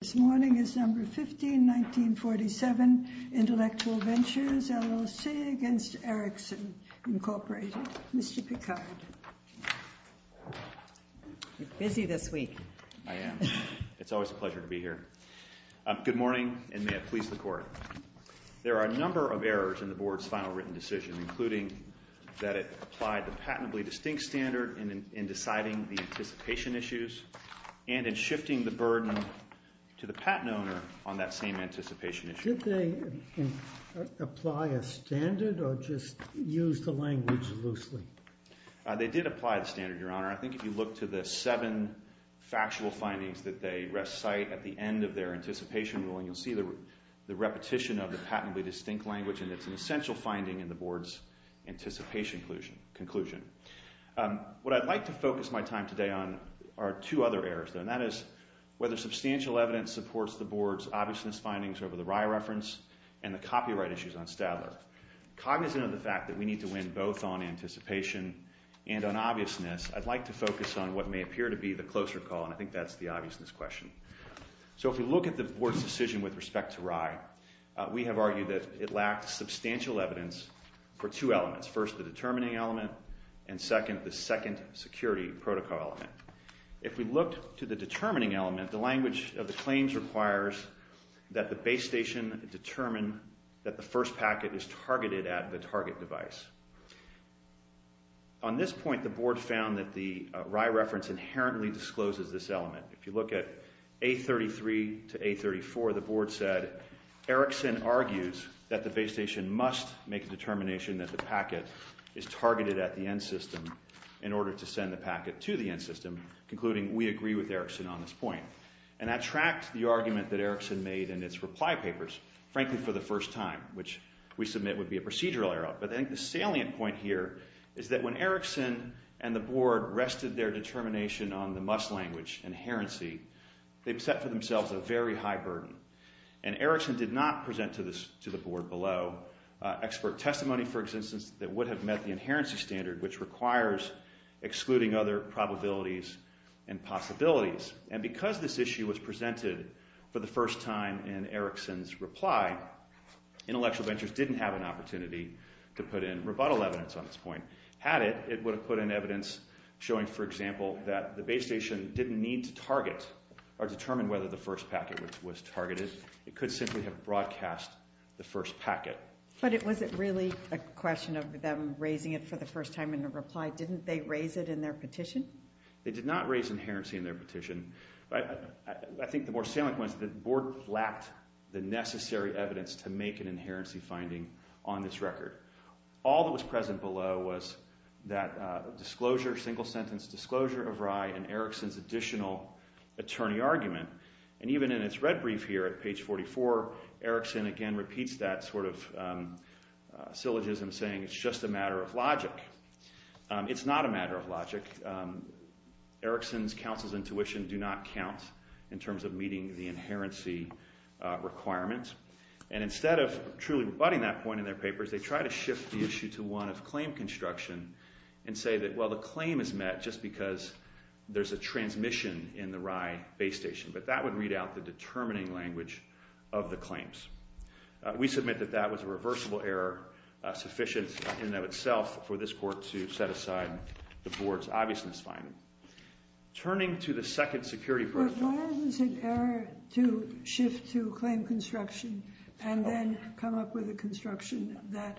This morning is number 15, 1947, Intellectual Ventures LLC against Ericsson Incorporated. Mr. Picard. You're busy this week. I am. It's always a pleasure to be here. Good morning, and may it please the Court. There are a number of errors in the Board's final written decision, including that it applied the patently distinct standard in deciding the anticipation issues and in shifting the burden to the patent owner on that same anticipation issue. Did they apply a standard or just use the language loosely? They did apply the standard, Your Honor. I think if you look to the seven factual findings that they recite at the end of their anticipation ruling, you'll see the repetition of the patently distinct language, and it's an essential finding in the Board's anticipation conclusion. What I'd like to focus my time today on are two other errors, though, and that is whether substantial evidence supports the Board's obviousness findings over the Rye reference and the copyright issues on Stadler. Cognizant of the fact that we need to win both on anticipation and on obviousness, I'd like to focus on what may appear to be the closer call, and I think that's the obviousness question. So if we look at the Board's decision with respect to Rye, we have argued that it lacked substantial evidence for two elements. First, the determining element, and second, the second security protocol element. If we looked to the determining element, the language of the claims requires that the base station determine that the first packet is targeted at the target device. On this point, the Board found that the Rye reference inherently discloses this element. If you look at A33 to A34, the Board said Erickson argues that the base station must make a determination that the packet is targeted at the end system in order to send the packet to the end system, concluding we agree with Erickson on this point. And I attract the argument that Erickson made in its reply papers, frankly, for the first time, which we submit would be a procedural error. But I think the salient point here is that when Erickson and the Board rested their determination on the must language, inherency, they set for themselves a very high burden. And Erickson did not present to the Board below expert testimony, for instance, that would have met the inherency standard, which requires excluding other probabilities and possibilities. And because this issue was presented for the first time in Erickson's reply, Intellectual Ventures didn't have an opportunity to put in rebuttal evidence on this point. Had it, it would have put in evidence showing, for example, that the base station didn't need to target or determine whether the first packet was targeted. It could simply have broadcast the first packet. But was it really a question of them raising it for the first time in a reply? Didn't they raise it in their petition? They did not raise inherency in their petition. But I think the more salient point is that the Board lacked the necessary evidence to make an inherency finding on this record. All that was present below was that disclosure, single sentence disclosure of Rye and Erickson's additional attorney argument. And even in its red brief here at page 44, Erickson again repeats that sort of syllogism saying it's just a matter of logic. It's not a matter of logic. Erickson's counsel's intuition do not count in terms of meeting the inherency requirement. And instead of truly rebutting that point in their papers, they try to shift the issue to one of claim construction and say that, well, the claim is met just because there's a transmission in the Rye base station. But that would read out the determining language of the claims. We submit that that was a reversible error sufficient in and of itself for this Court to set aside the Board's obviousness finding. Turning to the second security protocol. But why is it an error to shift to claim construction and then come up with a construction that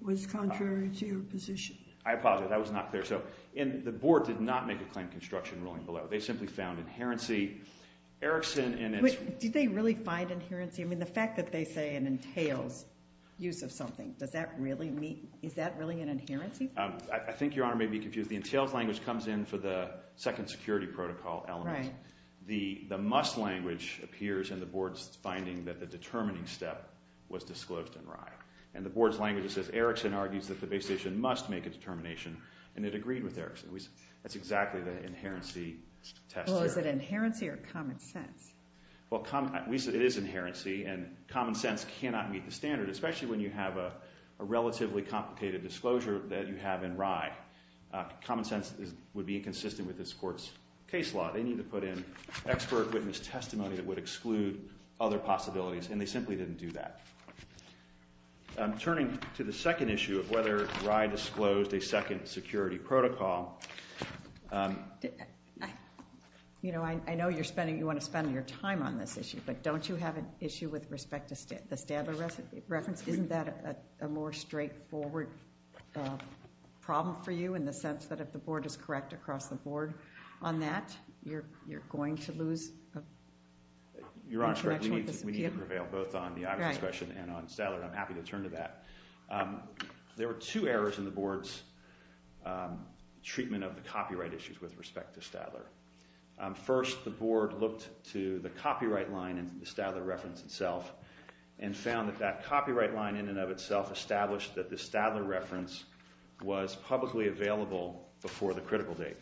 was contrary to your position? I apologize. That was not clear. So the Board did not make a claim construction ruling below. They simply found inherency. Erickson in its- Did they really find inherency? I mean, the fact that they say it entails use of something, does that really mean- is that really an inherency? I think Your Honor may be confused. The entails language comes in for the second security protocol element. Right. The must language appears in the Board's finding that the determining step was disclosed in Rye. And the Board's language says Erickson argues that the base station must make a determination, and it agreed with Erickson. That's exactly the inherency test here. Well, is it inherency or common sense? Well, it is inherency, and common sense cannot meet the standard, especially when you have a relatively complicated disclosure that you have in Rye. Common sense would be inconsistent with this court's case law. They need to put in expert witness testimony that would exclude other possibilities, and they simply didn't do that. Turning to the second issue of whether Rye disclosed a second security protocol- You know, I know you want to spend your time on this issue, but don't you have an issue with respect to the Stadler reference? Isn't that a more straightforward problem for you in the sense that if the Board is correct across the Board on that, you're going to lose- Your Honor, we need to prevail both on the Iverson question and on Stadler, and I'm happy to turn to that. There were two errors in the Board's treatment of the copyright issues with respect to Stadler. First, the Board looked to the copyright line in the Stadler reference itself and found that that copyright line in and of itself established that the Stadler reference was publicly available before the critical date.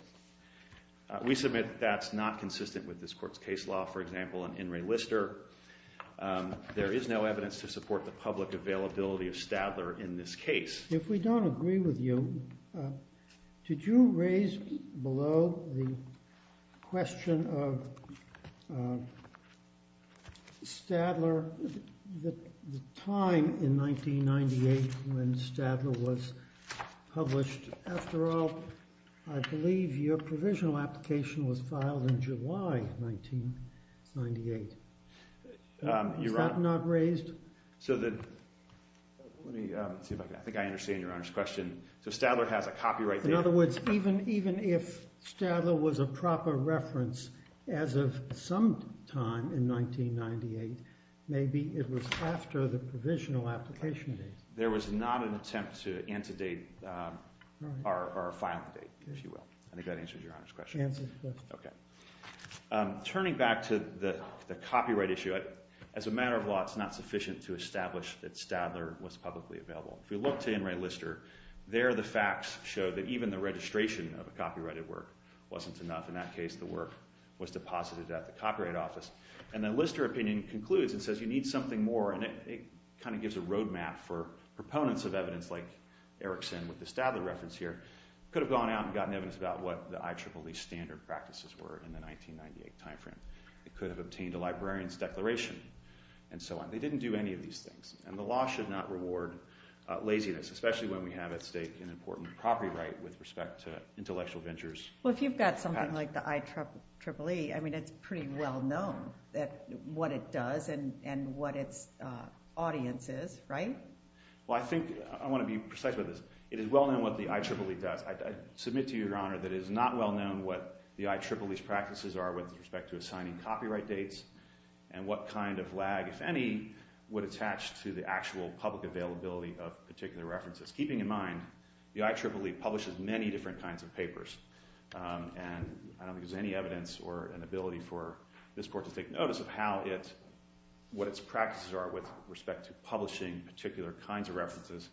We submit that that's not consistent with this court's case law. For example, in In re Lister, there is no evidence to support the public availability of Stadler in this case. If we don't agree with you, did you raise below the question of Stadler the time in 1998 when Stadler was published? After all, I believe your provisional application was filed in July 1998. Is that not raised? I think I understand Your Honor's question. So Stadler has a copyright- In other words, even if Stadler was a proper reference as of some time in 1998, maybe it was after the provisional application date. There was not an attempt to antedate or file the date, if you will. I think that answers Your Honor's question. Turning back to the copyright issue, as a matter of law, it's not sufficient to establish that Stadler was publicly available. If we look to In re Lister, there the facts show that even the registration of a copyrighted work wasn't enough. In that case, the work was deposited at the Copyright Office. And the Lister opinion concludes and says you need something more. And it kind of gives a road map for proponents of evidence like Erickson with the Stadler reference here. Could have gone out and gotten evidence about what the IEEE standard practices were in the 1998 time frame. It could have obtained a librarian's declaration and so on. They didn't do any of these things. And the law should not reward laziness, especially when we have at stake an important copyright with respect to intellectual ventures. Well, if you've got something like the IEEE, I mean, it's pretty well known what it does and what its audience is, right? Well, I think I want to be precise about this. It is well known what the IEEE does. I submit to you, Your Honor, that it is not well known what the IEEE's practices are with respect to assigning copyright dates and what kind of lag, if any, would attach to the actual public availability of particular references. Just keeping in mind, the IEEE publishes many different kinds of papers. And I don't think there's any evidence or an ability for this Court to take notice of how it – what its practices are with respect to publishing particular kinds of references,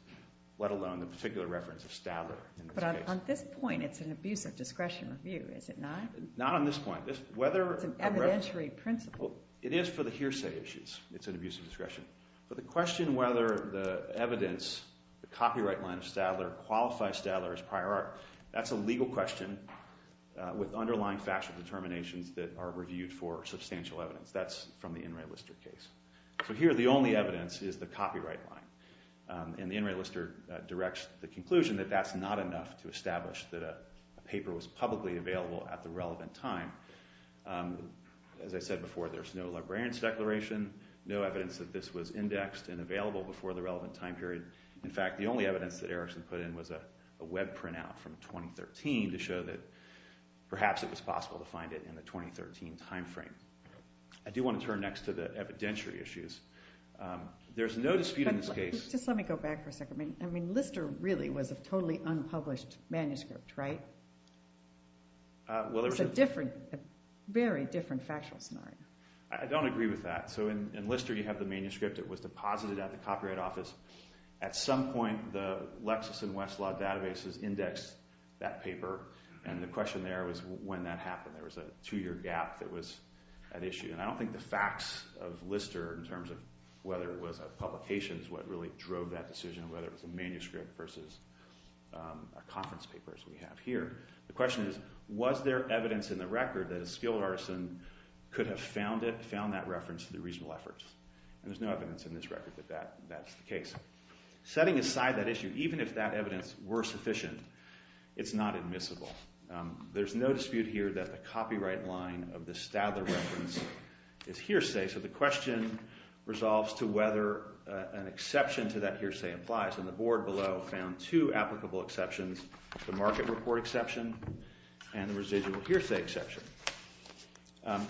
let alone the particular reference of Stadler. But on this point, it's an abuse of discretion review, is it not? Not on this point. It's an evidentiary principle. It is for the hearsay issues. It's an abuse of discretion. But the question whether the evidence, the copyright line of Stadler qualifies Stadler as prior art, that's a legal question with underlying factual determinations that are reviewed for substantial evidence. That's from the In re Lister case. So here, the only evidence is the copyright line. And the In re Lister directs the conclusion that that's not enough to establish that a paper was publicly available at the relevant time. As I said before, there's no librarian's declaration, no evidence that this was indexed and available before the relevant time period. In fact, the only evidence that Erickson put in was a web printout from 2013 to show that perhaps it was possible to find it in the 2013 time frame. I do want to turn next to the evidentiary issues. There's no dispute in this case. But just let me go back for a second. I mean Lister really was a totally unpublished manuscript, right? It's a very different factual scenario. I don't agree with that. So in Lister, you have the manuscript that was deposited at the Copyright Office. At some point, the Lexis and Westlaw databases indexed that paper. And the question there was when that happened. There was a two-year gap that was at issue. And I don't think the facts of Lister in terms of whether it was a publication is what really drove that decision, whether it was a manuscript versus a conference paper as we have here. The question is was there evidence in the record that a skilled artisan could have found that reference through reasonable efforts? And there's no evidence in this record that that's the case. Setting aside that issue, even if that evidence were sufficient, it's not admissible. There's no dispute here that the copyright line of the Stadler reference is hearsay. So the question resolves to whether an exception to that hearsay applies. And the board below found two applicable exceptions, the market report exception and the residual hearsay exception.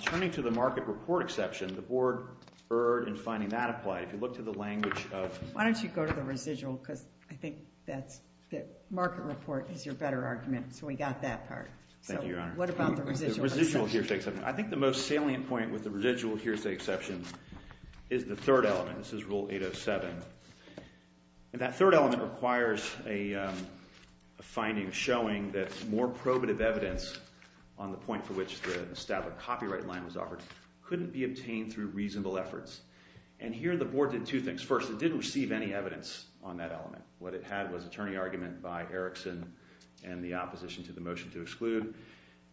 Turning to the market report exception, the board erred in finding that applied. If you look to the language of- Why don't you go to the residual because I think that's the market report is your better argument. So we got that part. Thank you, Your Honor. What about the residual hearsay? I think the most salient point with the residual hearsay exception is the third element. This is Rule 807. That third element requires a finding showing that more probative evidence on the point for which the Stadler copyright line was offered couldn't be obtained through reasonable efforts. And here the board did two things. First, it didn't receive any evidence on that element. What it had was attorney argument by Erickson and the opposition to the motion to exclude.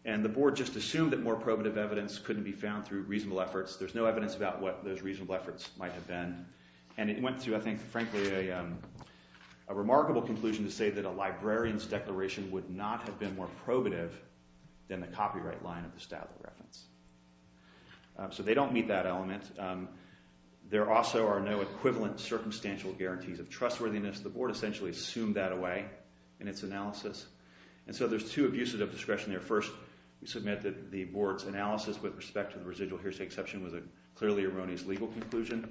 And the board just assumed that more probative evidence couldn't be found through reasonable efforts. There's no evidence about what those reasonable efforts might have been. And it went through, I think, frankly, a remarkable conclusion to say that a librarian's declaration would not have been more probative than the copyright line of the Stadler reference. So they don't meet that element. There also are no equivalent circumstantial guarantees of trustworthiness. The board essentially assumed that away in its analysis. And so there's two abuses of discretion there. First, we submit that the board's analysis with respect to the residual hearsay exception was a clearly erroneous legal conclusion.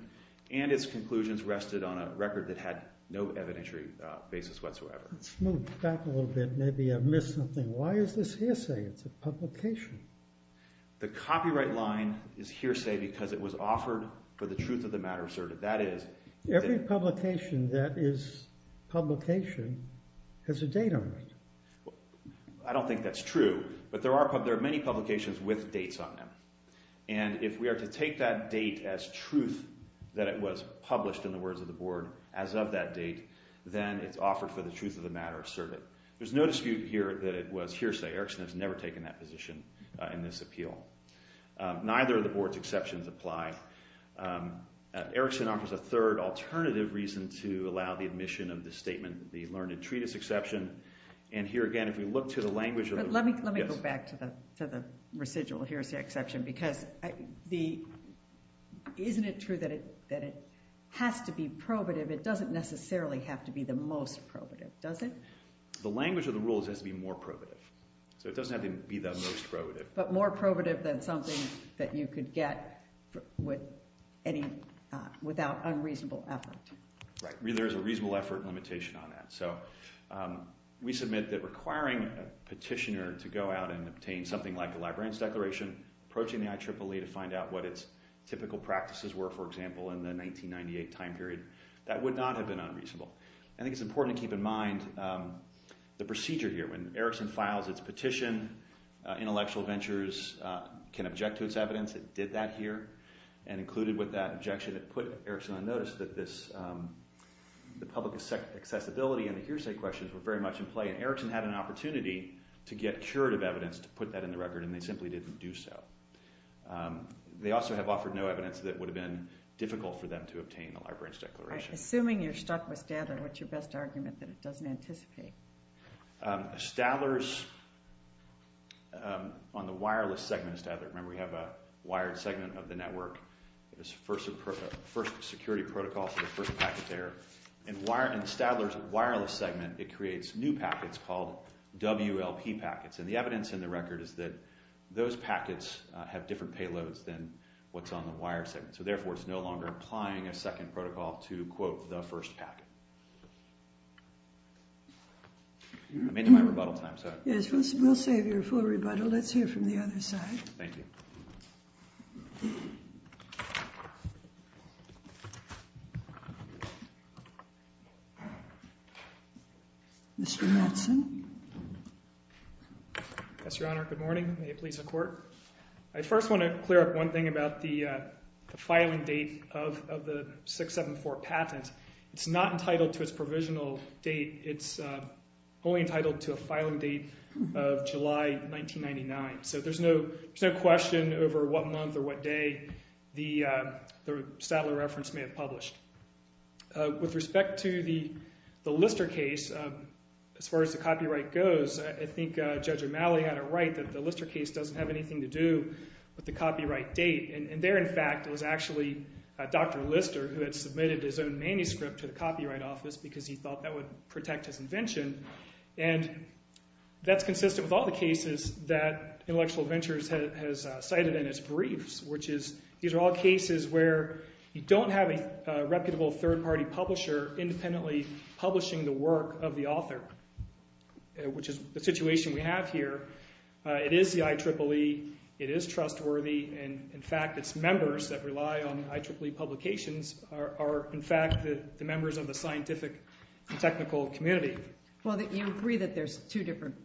And its conclusions rested on a record that had no evidentiary basis whatsoever. Let's move back a little bit. Maybe I missed something. Why is this hearsay? It's a publication. The copyright line is hearsay because it was offered for the truth of the matter asserted. Every publication that is publication has a date on it. I don't think that's true. But there are many publications with dates on them. And if we are to take that date as truth, that it was published in the words of the board as of that date, then it's offered for the truth of the matter asserted. There's no dispute here that it was hearsay. Erickson has never taken that position in this appeal. Neither of the board's exceptions apply. Erickson offers a third alternative reason to allow the admission of this statement, the learned entreaties exception. And here again, if we look to the language of the rule. But let me go back to the residual hearsay exception because isn't it true that it has to be probative? It doesn't necessarily have to be the most probative, does it? The language of the rule is it has to be more probative. So it doesn't have to be the most probative. But more probative than something that you could get without unreasonable effort. Right. There is a reasonable effort limitation on that. So we submit that requiring a petitioner to go out and obtain something like a librarian's declaration, approaching the IEEE to find out what its typical practices were, for example, in the 1998 time period, that would not have been unreasonable. I think it's important to keep in mind the procedure here. When Erickson files its petition, Intellectual Ventures can object to its evidence. It did that here and included with that objection, it put Erickson on notice that the public accessibility and the hearsay questions were very much in play. And Erickson had an opportunity to get curative evidence to put that in the record and they simply didn't do so. They also have offered no evidence that would have been difficult for them to obtain a librarian's declaration. Assuming you're stuck with Stadler, what's your best argument that it doesn't anticipate? Stadler's, on the wireless segment of Stadler, remember we have a wired segment of the network. It's first security protocol for the first packet there. In Stadler's wireless segment, it creates new packets called WLP packets. And the evidence in the record is that those packets have different payloads than what's on the wired segment. So therefore, it's no longer applying a second protocol to quote the first packet. I'm into my rebuttal time. Yes, we'll save your full rebuttal. Let's hear from the other side. Thank you. Mr. Mattson. Good morning. May it please the Court. I first want to clear up one thing about the filing date of the 674 patent. It's not entitled to its provisional date. It's only entitled to a filing date of July 1999. So there's no question over what month or what day the Stadler reference may have published. With respect to the Lister case, as far as the copyright goes, I think Judge O'Malley had it right that the Lister case doesn't have anything to do with the copyright date. And there, in fact, was actually Dr. Lister who had submitted his own manuscript to the Copyright Office because he thought that would protect his invention. And that's consistent with all the cases that Intellectual Ventures has cited in its briefs, which is these are all cases where you don't have a reputable third-party publisher independently publishing the work of the author, which is the situation we have here. It is the IEEE. It is trustworthy. And, in fact, its members that rely on IEEE publications are, in fact, the members of the scientific and technical community. Well, you agree that there's two different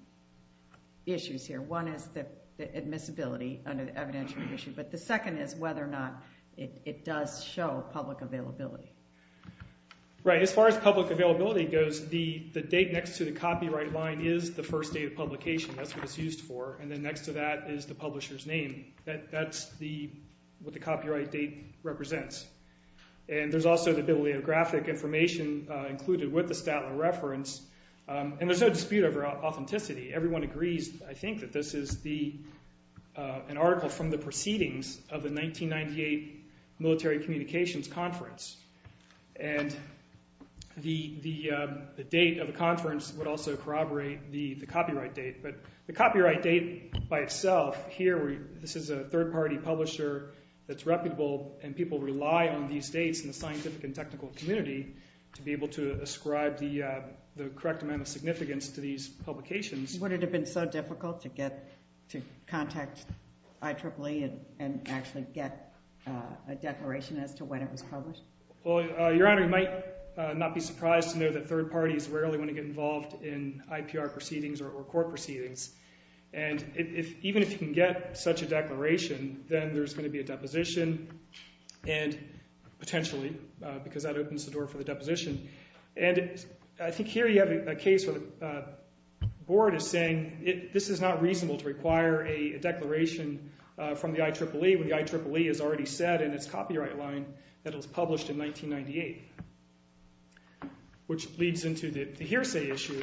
issues here. One is the admissibility under the evidentiary issue. But the second is whether or not it does show public availability. Right. As far as public availability goes, the date next to the copyright line is the first date of publication. That's what it's used for. And then next to that is the publisher's name. That's what the copyright date represents. And there's also the bibliographic information included with the Statler reference. And there's no dispute over authenticity. Everyone agrees, I think, that this is an article from the proceedings of the 1998 Military Communications Conference. And the date of the conference would also corroborate the copyright date. But the copyright date by itself here, this is a third-party publisher that's reputable, and people rely on these dates in the scientific and technical community to be able to ascribe the correct amount of significance to these publications. Would it have been so difficult to contact IEEE and actually get a declaration as to when it was published? Well, Your Honor, you might not be surprised to know that third parties rarely want to get involved in IPR proceedings or court proceedings. And even if you can get such a declaration, then there's going to be a deposition, and potentially, because that opens the door for the deposition. And I think here you have a case where the board is saying this is not reasonable to require a declaration from the IEEE, when the IEEE has already said in its copyright line that it was published in 1998, which leads into the hearsay issue.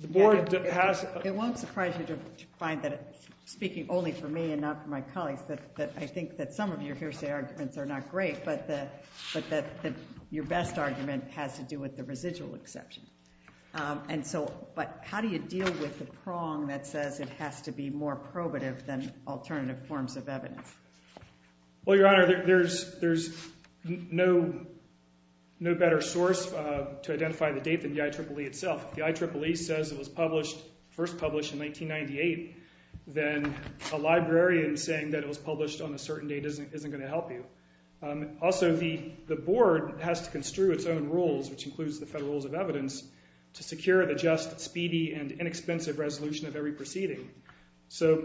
The board has – It won't surprise you to find that, speaking only for me and not for my colleagues, that I think that some of your hearsay arguments are not great. But your best argument has to do with the residual exception. But how do you deal with the prong that says it has to be more probative than alternative forms of evidence? Well, Your Honor, there's no better source to identify the date than the IEEE itself. If the IEEE says it was first published in 1998, then a librarian saying that it was published on a certain date isn't going to help you. Also, the board has to construe its own rules, which includes the Federal Rules of Evidence, to secure the just, speedy, and inexpensive resolution of every proceeding. So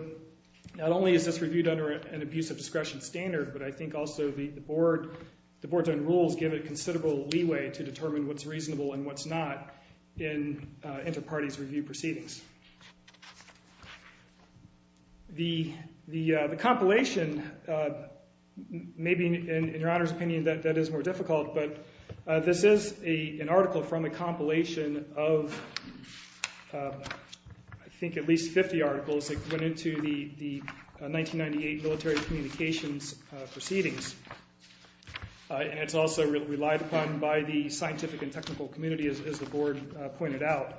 not only is this reviewed under an abuse of discretion standard, but I think also the board's own rules give it considerable leeway to determine what's reasonable and what's not in inter-parties review proceedings. The compilation may be, in Your Honor's opinion, that is more difficult, but this is an article from a compilation of, I think, at least 50 articles that went into the 1998 military communications proceedings. And it's also relied upon by the scientific and technical community, as the board pointed out.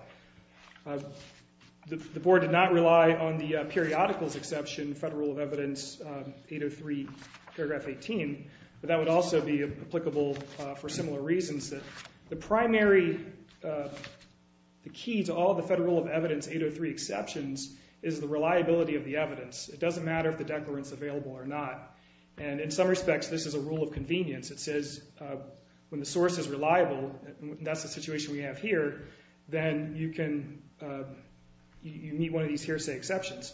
The board did not rely on the periodicals exception, Federal Rule of Evidence 803, paragraph 18, but that would also be applicable for similar reasons. The primary key to all the Federal Rule of Evidence 803 exceptions is the reliability of the evidence. It doesn't matter if the declarant's available or not. And in some respects, this is a rule of convenience. It says when the source is reliable, and that's the situation we have here, then you meet one of these hearsay exceptions.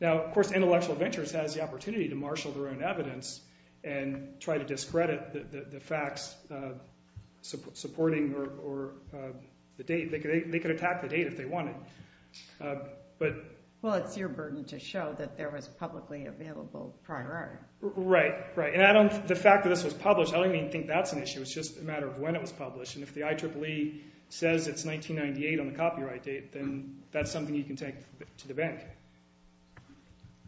Now, of course, Intellectual Ventures has the opportunity to marshal their own evidence and try to discredit the facts supporting the date. They could attack the date if they wanted. Well, it's your burden to show that there was publicly available prior art. Right, right. The fact that this was published, I don't even think that's an issue. It's just a matter of when it was published. And if the IEEE says it's 1998 on the copyright date, then that's something you can take to the bank.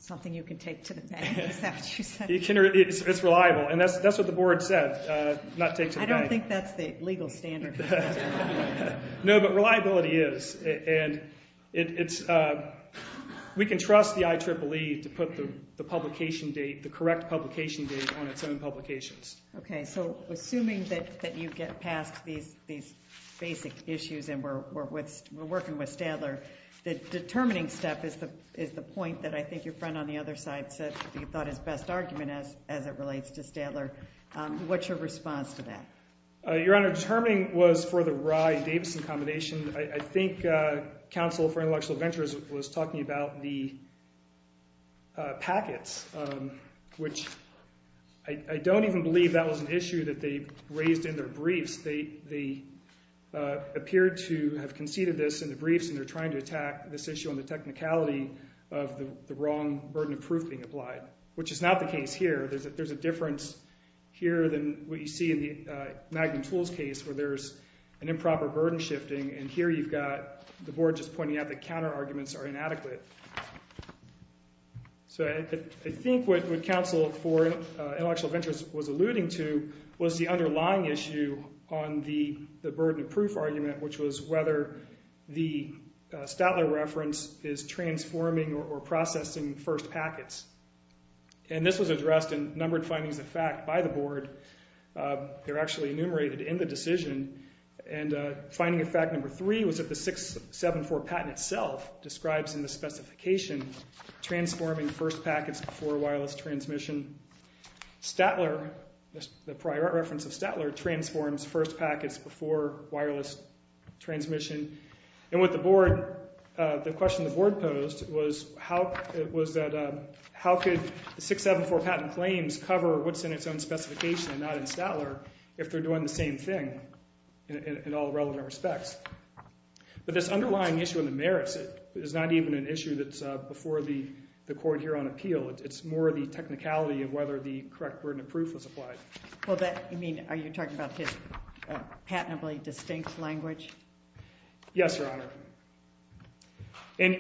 Something you can take to the bank, is that what you said? It's reliable, and that's what the board said, not take to the bank. I don't think that's the legal standard. No, but reliability is. And we can trust the IEEE to put the publication date, the correct publication date, on its own publications. Okay, so assuming that you get past these basic issues and we're working with Stadler, the determining step is the point that I think your friend on the other side said he thought his best argument as it relates to Stadler. What's your response to that? Your Honor, determining was for the Rye-Davison combination. I think Counsel for Intellectual Ventures was talking about the packets, which I don't even believe that was an issue that they raised in their briefs. They appeared to have conceded this in the briefs, and they're trying to attack this issue on the technicality of the wrong burden of proof being applied, which is not the case here. There's a difference here than what you see in the Magnum Tools case where there's an improper burden shifting, and here you've got the board just pointing out that counterarguments are inadequate. So I think what Counsel for Intellectual Ventures was alluding to was the underlying issue on the burden of proof argument, which was whether the Stadler reference is transforming or processing first packets. And this was addressed in numbered findings of fact by the board. They're actually enumerated in the decision, and finding of fact number three was that the 674 patent itself describes in the specification transforming first packets before wireless transmission. Stadler, the prior reference of Stadler, transforms first packets before wireless transmission. And the question the board posed was how could 674 patent claims cover what's in its own specification and not in Stadler if they're doing the same thing in all relevant respects? But this underlying issue of the merits is not even an issue that's before the court here on appeal. It's more the technicality of whether the correct burden of proof was applied. Are you talking about his patently distinct language? Yes, Your Honor. The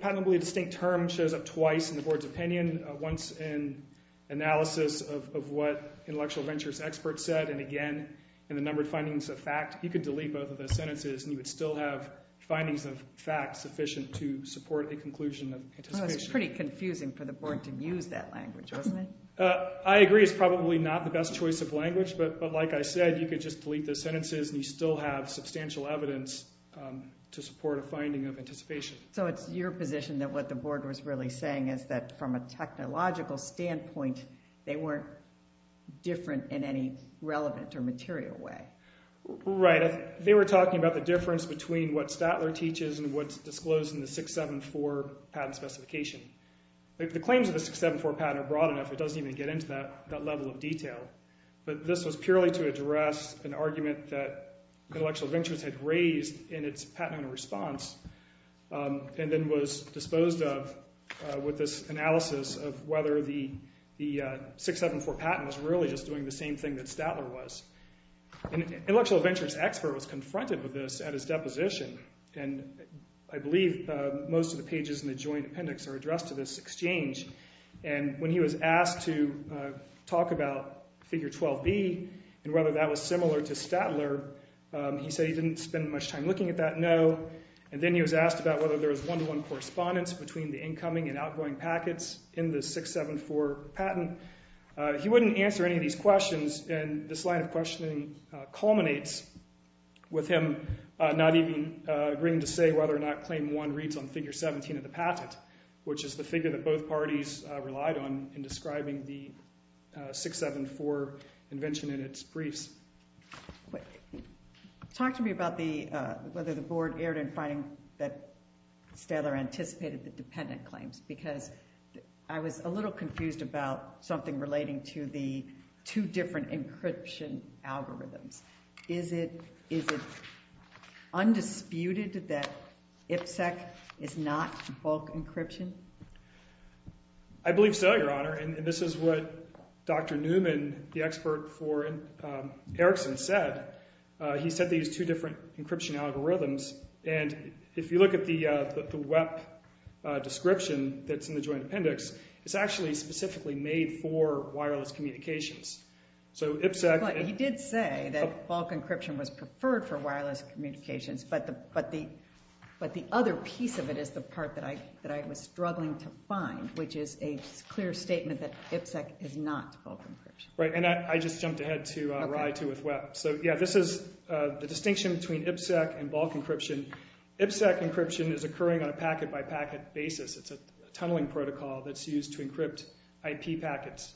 patently distinct term shows up twice in the board's opinion, once in analysis of what intellectual ventures experts said, and again in the numbered findings of fact. You could delete both of those sentences, and you would still have findings of fact sufficient to support a conclusion of anticipation. So it's pretty confusing for the board to use that language, wasn't it? I agree it's probably not the best choice of language, but like I said, you could just delete those sentences, and you'd still have substantial evidence to support a finding of anticipation. So it's your position that what the board was really saying is that from a technological standpoint, they weren't different in any relevant or material way. Right. They were talking about the difference between what Stadler teaches and what's disclosed in the 674 patent specification. The claims of the 674 patent are broad enough. It doesn't even get into that level of detail. But this was purely to address an argument that Intellectual Ventures had raised in its patent response and then was disposed of with this analysis of whether the 674 patent was really just doing the same thing that Stadler was. An Intellectual Ventures expert was confronted with this at his deposition, and I believe most of the pages in the joint appendix are addressed to this exchange. And when he was asked to talk about Figure 12b and whether that was similar to Stadler, he said he didn't spend much time looking at that, no. And then he was asked about whether there was one-to-one correspondence between the incoming and outgoing packets in the 674 patent. He wouldn't answer any of these questions, and this line of questioning culminates with him not even agreeing to say whether or not Claim 1 reads on Figure 17 of the patent, which is the figure that both parties relied on in describing the 674 invention in its briefs. Talk to me about whether the board erred in finding that Stadler anticipated the dependent claims because I was a little confused about something relating to the two different encryption algorithms. Is it undisputed that IPSEC is not bulk encryption? I believe so, Your Honor, and this is what Dr. Newman, the expert for Erickson, said. He said these two different encryption algorithms, and if you look at the WEP description that's in the joint appendix, it's actually specifically made for wireless communications. He did say that bulk encryption was preferred for wireless communications, but the other piece of it is the part that I was struggling to find, which is a clear statement that IPSEC is not bulk encryption. Right, and I just jumped ahead to RAI 2 with WEP. So, yeah, this is the distinction between IPSEC and bulk encryption. IPSEC encryption is occurring on a packet-by-packet basis. It's a tunneling protocol that's used to encrypt IP packets.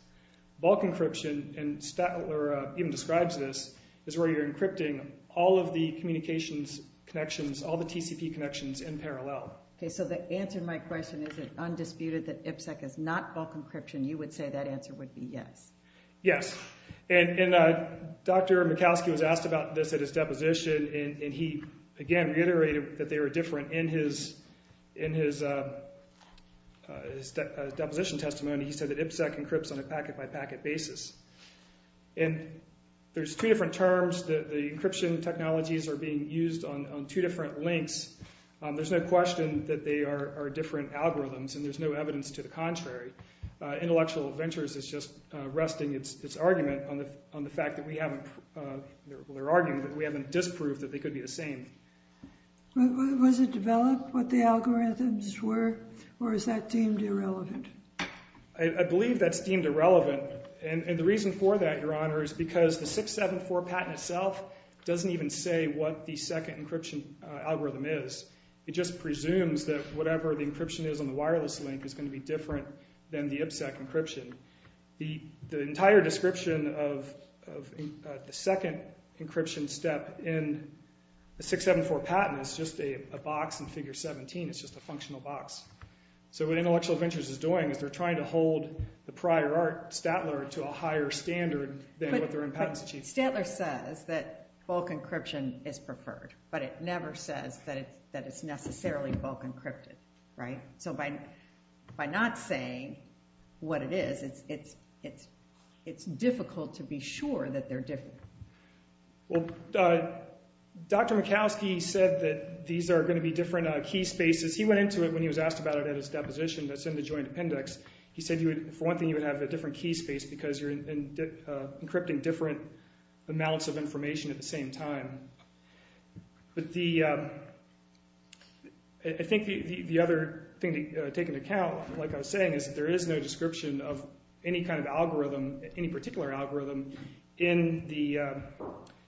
Bulk encryption, and Stadler even describes this, is where you're encrypting all of the communications connections, all the TCP connections in parallel. Okay, so the answer to my question, is it undisputed that IPSEC is not bulk encryption? You would say that answer would be yes. Yes, and Dr. Michalski was asked about this at his deposition, and he, again, reiterated that they were different. In his deposition testimony, he said that IPSEC encrypts on a packet-by-packet basis. And there's two different terms. The encryption technologies are being used on two different links. There's no question that they are different algorithms, and there's no evidence to the contrary. Intellectual Ventures is just resting its argument on the fact that we haven't disproved that they could be the same. Was it developed what the algorithms were, or is that deemed irrelevant? I believe that's deemed irrelevant. And the reason for that, Your Honor, is because the 674 patent itself doesn't even say what the second encryption algorithm is. It just presumes that whatever the encryption is on the wireless link is going to be different than the IPSEC encryption. The entire description of the second encryption step in the 674 patent is just a box in Figure 17. It's just a functional box. So what Intellectual Ventures is doing is they're trying to hold the prior art, Statler, to a higher standard than what their own patents achieve. But Statler says that bulk encryption is preferred, but it never says that it's necessarily bulk encrypted, right? So by not saying what it is, it's difficult to be sure that they're different. Well, Dr. Mikowski said that these are going to be different key spaces. He went into it when he was asked about it at his deposition that's in the Joint Appendix. He said, for one thing, you would have a different key space because you're encrypting different amounts of information at the same time. But I think the other thing to take into account, like I was saying, is that there is no description of any kind of algorithm, any particular algorithm, in the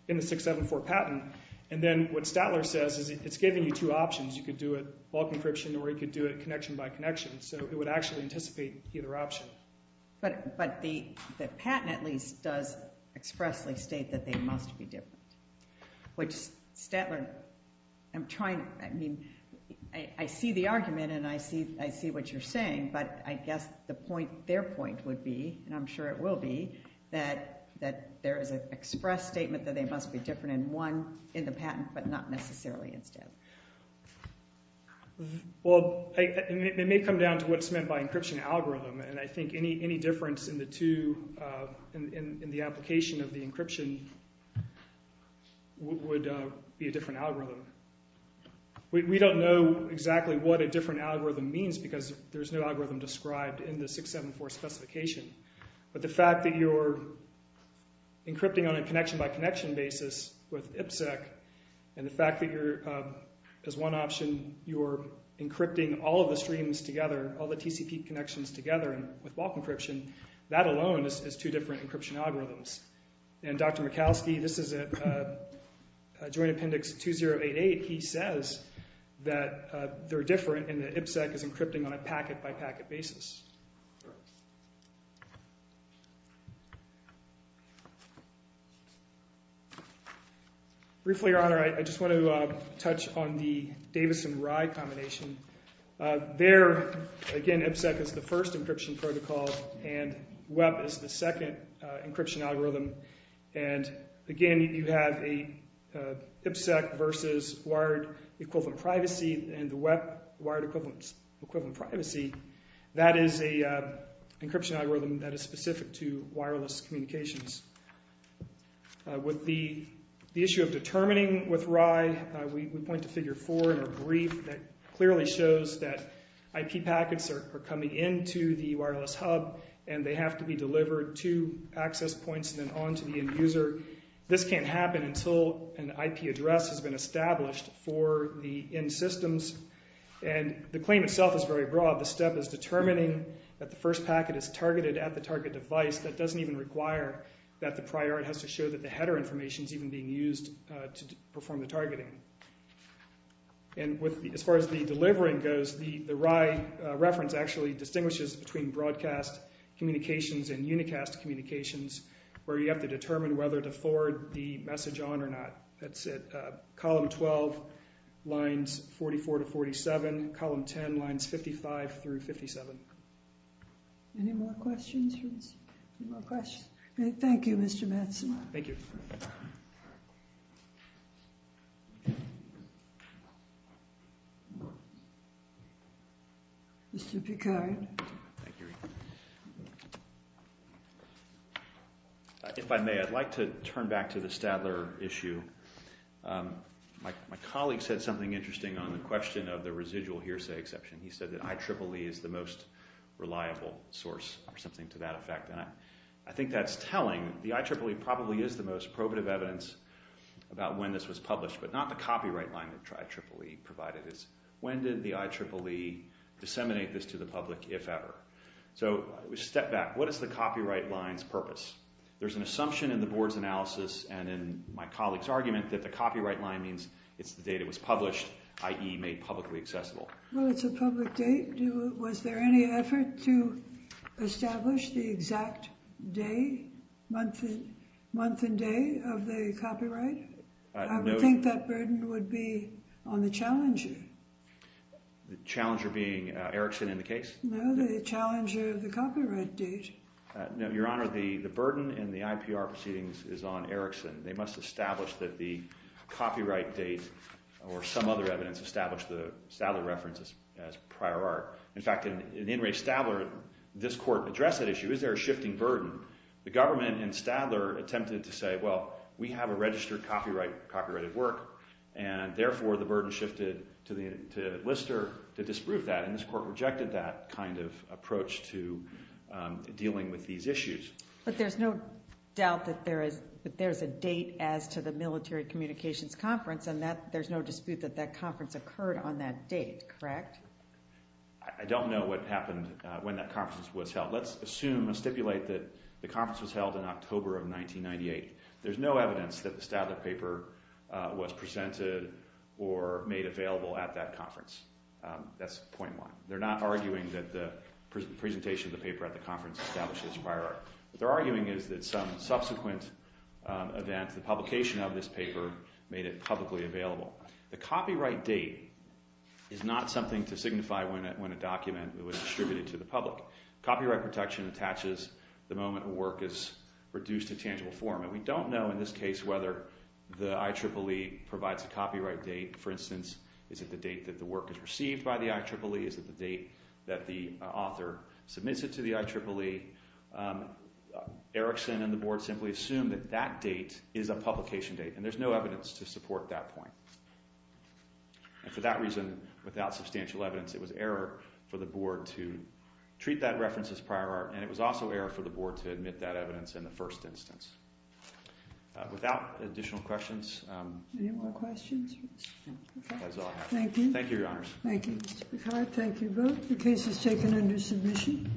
674 patent. And then what Statler says is it's giving you two options. You could do it bulk encryption or you could do it connection by connection. So it would actually anticipate either option. But the patent, at least, does expressly state that they must be different, which Statler – I'm trying – I mean, I see the argument and I see what you're saying. But I guess the point – their point would be, and I'm sure it will be, that there is an express statement that they must be different in one – in the patent, but not necessarily in Statler. Well, it may come down to what's meant by encryption algorithm. And I think any difference in the two – in the application of the encryption would be a different algorithm. We don't know exactly what a different algorithm means because there's no algorithm described in the 674 specification. But the fact that you're encrypting on a connection-by-connection basis with IPSEC and the fact that you're – as one option, you're encrypting all of the streams together, all the TCP connections together with bulk encryption, that alone is two different encryption algorithms. And Dr. Mikalski, this is at Joint Appendix 2088, he says that they're different and that IPSEC is encrypting on a packet-by-packet basis. Briefly, Your Honor, I just want to touch on the Davis and Rye combination. There, again, IPSEC is the first encryption protocol and WEP is the second encryption algorithm. And, again, you have a IPSEC versus wired equivalent privacy and the WEP wired equivalent privacy. That is an encryption algorithm that is specific to wireless communications. With the issue of determining with Rye, we point to Figure 4 in our brief that clearly shows that IP packets are coming into the wireless hub and they have to be delivered to access points and then on to the end user. This can't happen until an IP address has been established for the end systems. And the claim itself is very broad. The step is determining that the first packet is targeted at the target device. That doesn't even require that the prior has to show that the header information is even being used to perform the targeting. And as far as the delivering goes, the Rye reference actually distinguishes between broadcast communications and unicast communications where you have to determine whether to forward the message on or not. That's it. Column 12 lines 44 to 47. Column 10 lines 55 through 57. Any more questions for this? Any more questions? Thank you, Mr. Matson. Thank you. Mr. Picard. Thank you. If I may, I'd like to turn back to the Stadler issue. My colleague said something interesting on the question of the residual hearsay exception. He said that IEEE is the most reliable source or something to that effect. And I think that's telling. The IEEE probably is the most probative evidence about when this was published, but not the copyright line that IEEE provided. When did the IEEE disseminate this to the public, if ever? So step back. What is the copyright line's purpose? There's an assumption in the board's analysis and in my colleague's argument that the copyright line means it's the date it was published, i.e. made publicly accessible. Well, it's a public date. Was there any effort to establish the exact day, month and day, of the copyright? I would think that burden would be on the challenger. The challenger being Erickson in the case? No, the challenger of the copyright date. No, Your Honor, the burden in the IPR proceedings is on Erickson. They must establish that the copyright date or some other evidence established the Stadler reference as prior art. In fact, in In re Stadler, this court addressed that issue. Is there a shifting burden? The government in Stadler attempted to say, well, we have a registered copyrighted work, and therefore the burden shifted to Lister to disprove that. And this court rejected that kind of approach to dealing with these issues. But there's no doubt that there is a date as to the military communications conference, and there's no dispute that that conference occurred on that date, correct? I don't know what happened when that conference was held. Let's assume, let's stipulate that the conference was held in October of 1998. There's no evidence that the Stadler paper was presented or made available at that conference. That's point one. They're not arguing that the presentation of the paper at the conference established as prior art. What they're arguing is that some subsequent event, the publication of this paper, made it publicly available. The copyright date is not something to signify when a document was distributed to the public. Copyright protection attaches the moment a work is reduced to tangible form. And we don't know in this case whether the IEEE provides a copyright date. For instance, is it the date that the work is received by the IEEE? Is it the date that the author submits it to the IEEE? Erickson and the board simply assume that that date is a publication date, and there's no evidence to support that point. And for that reason, without substantial evidence, it was error for the board to treat that reference as prior art. And it was also error for the board to admit that evidence in the first instance. Without additional questions. Any more questions? That's all. Thank you. Thank you, Your Honors. Thank you, Mr. Picard. Thank you both. The case is taken under submission.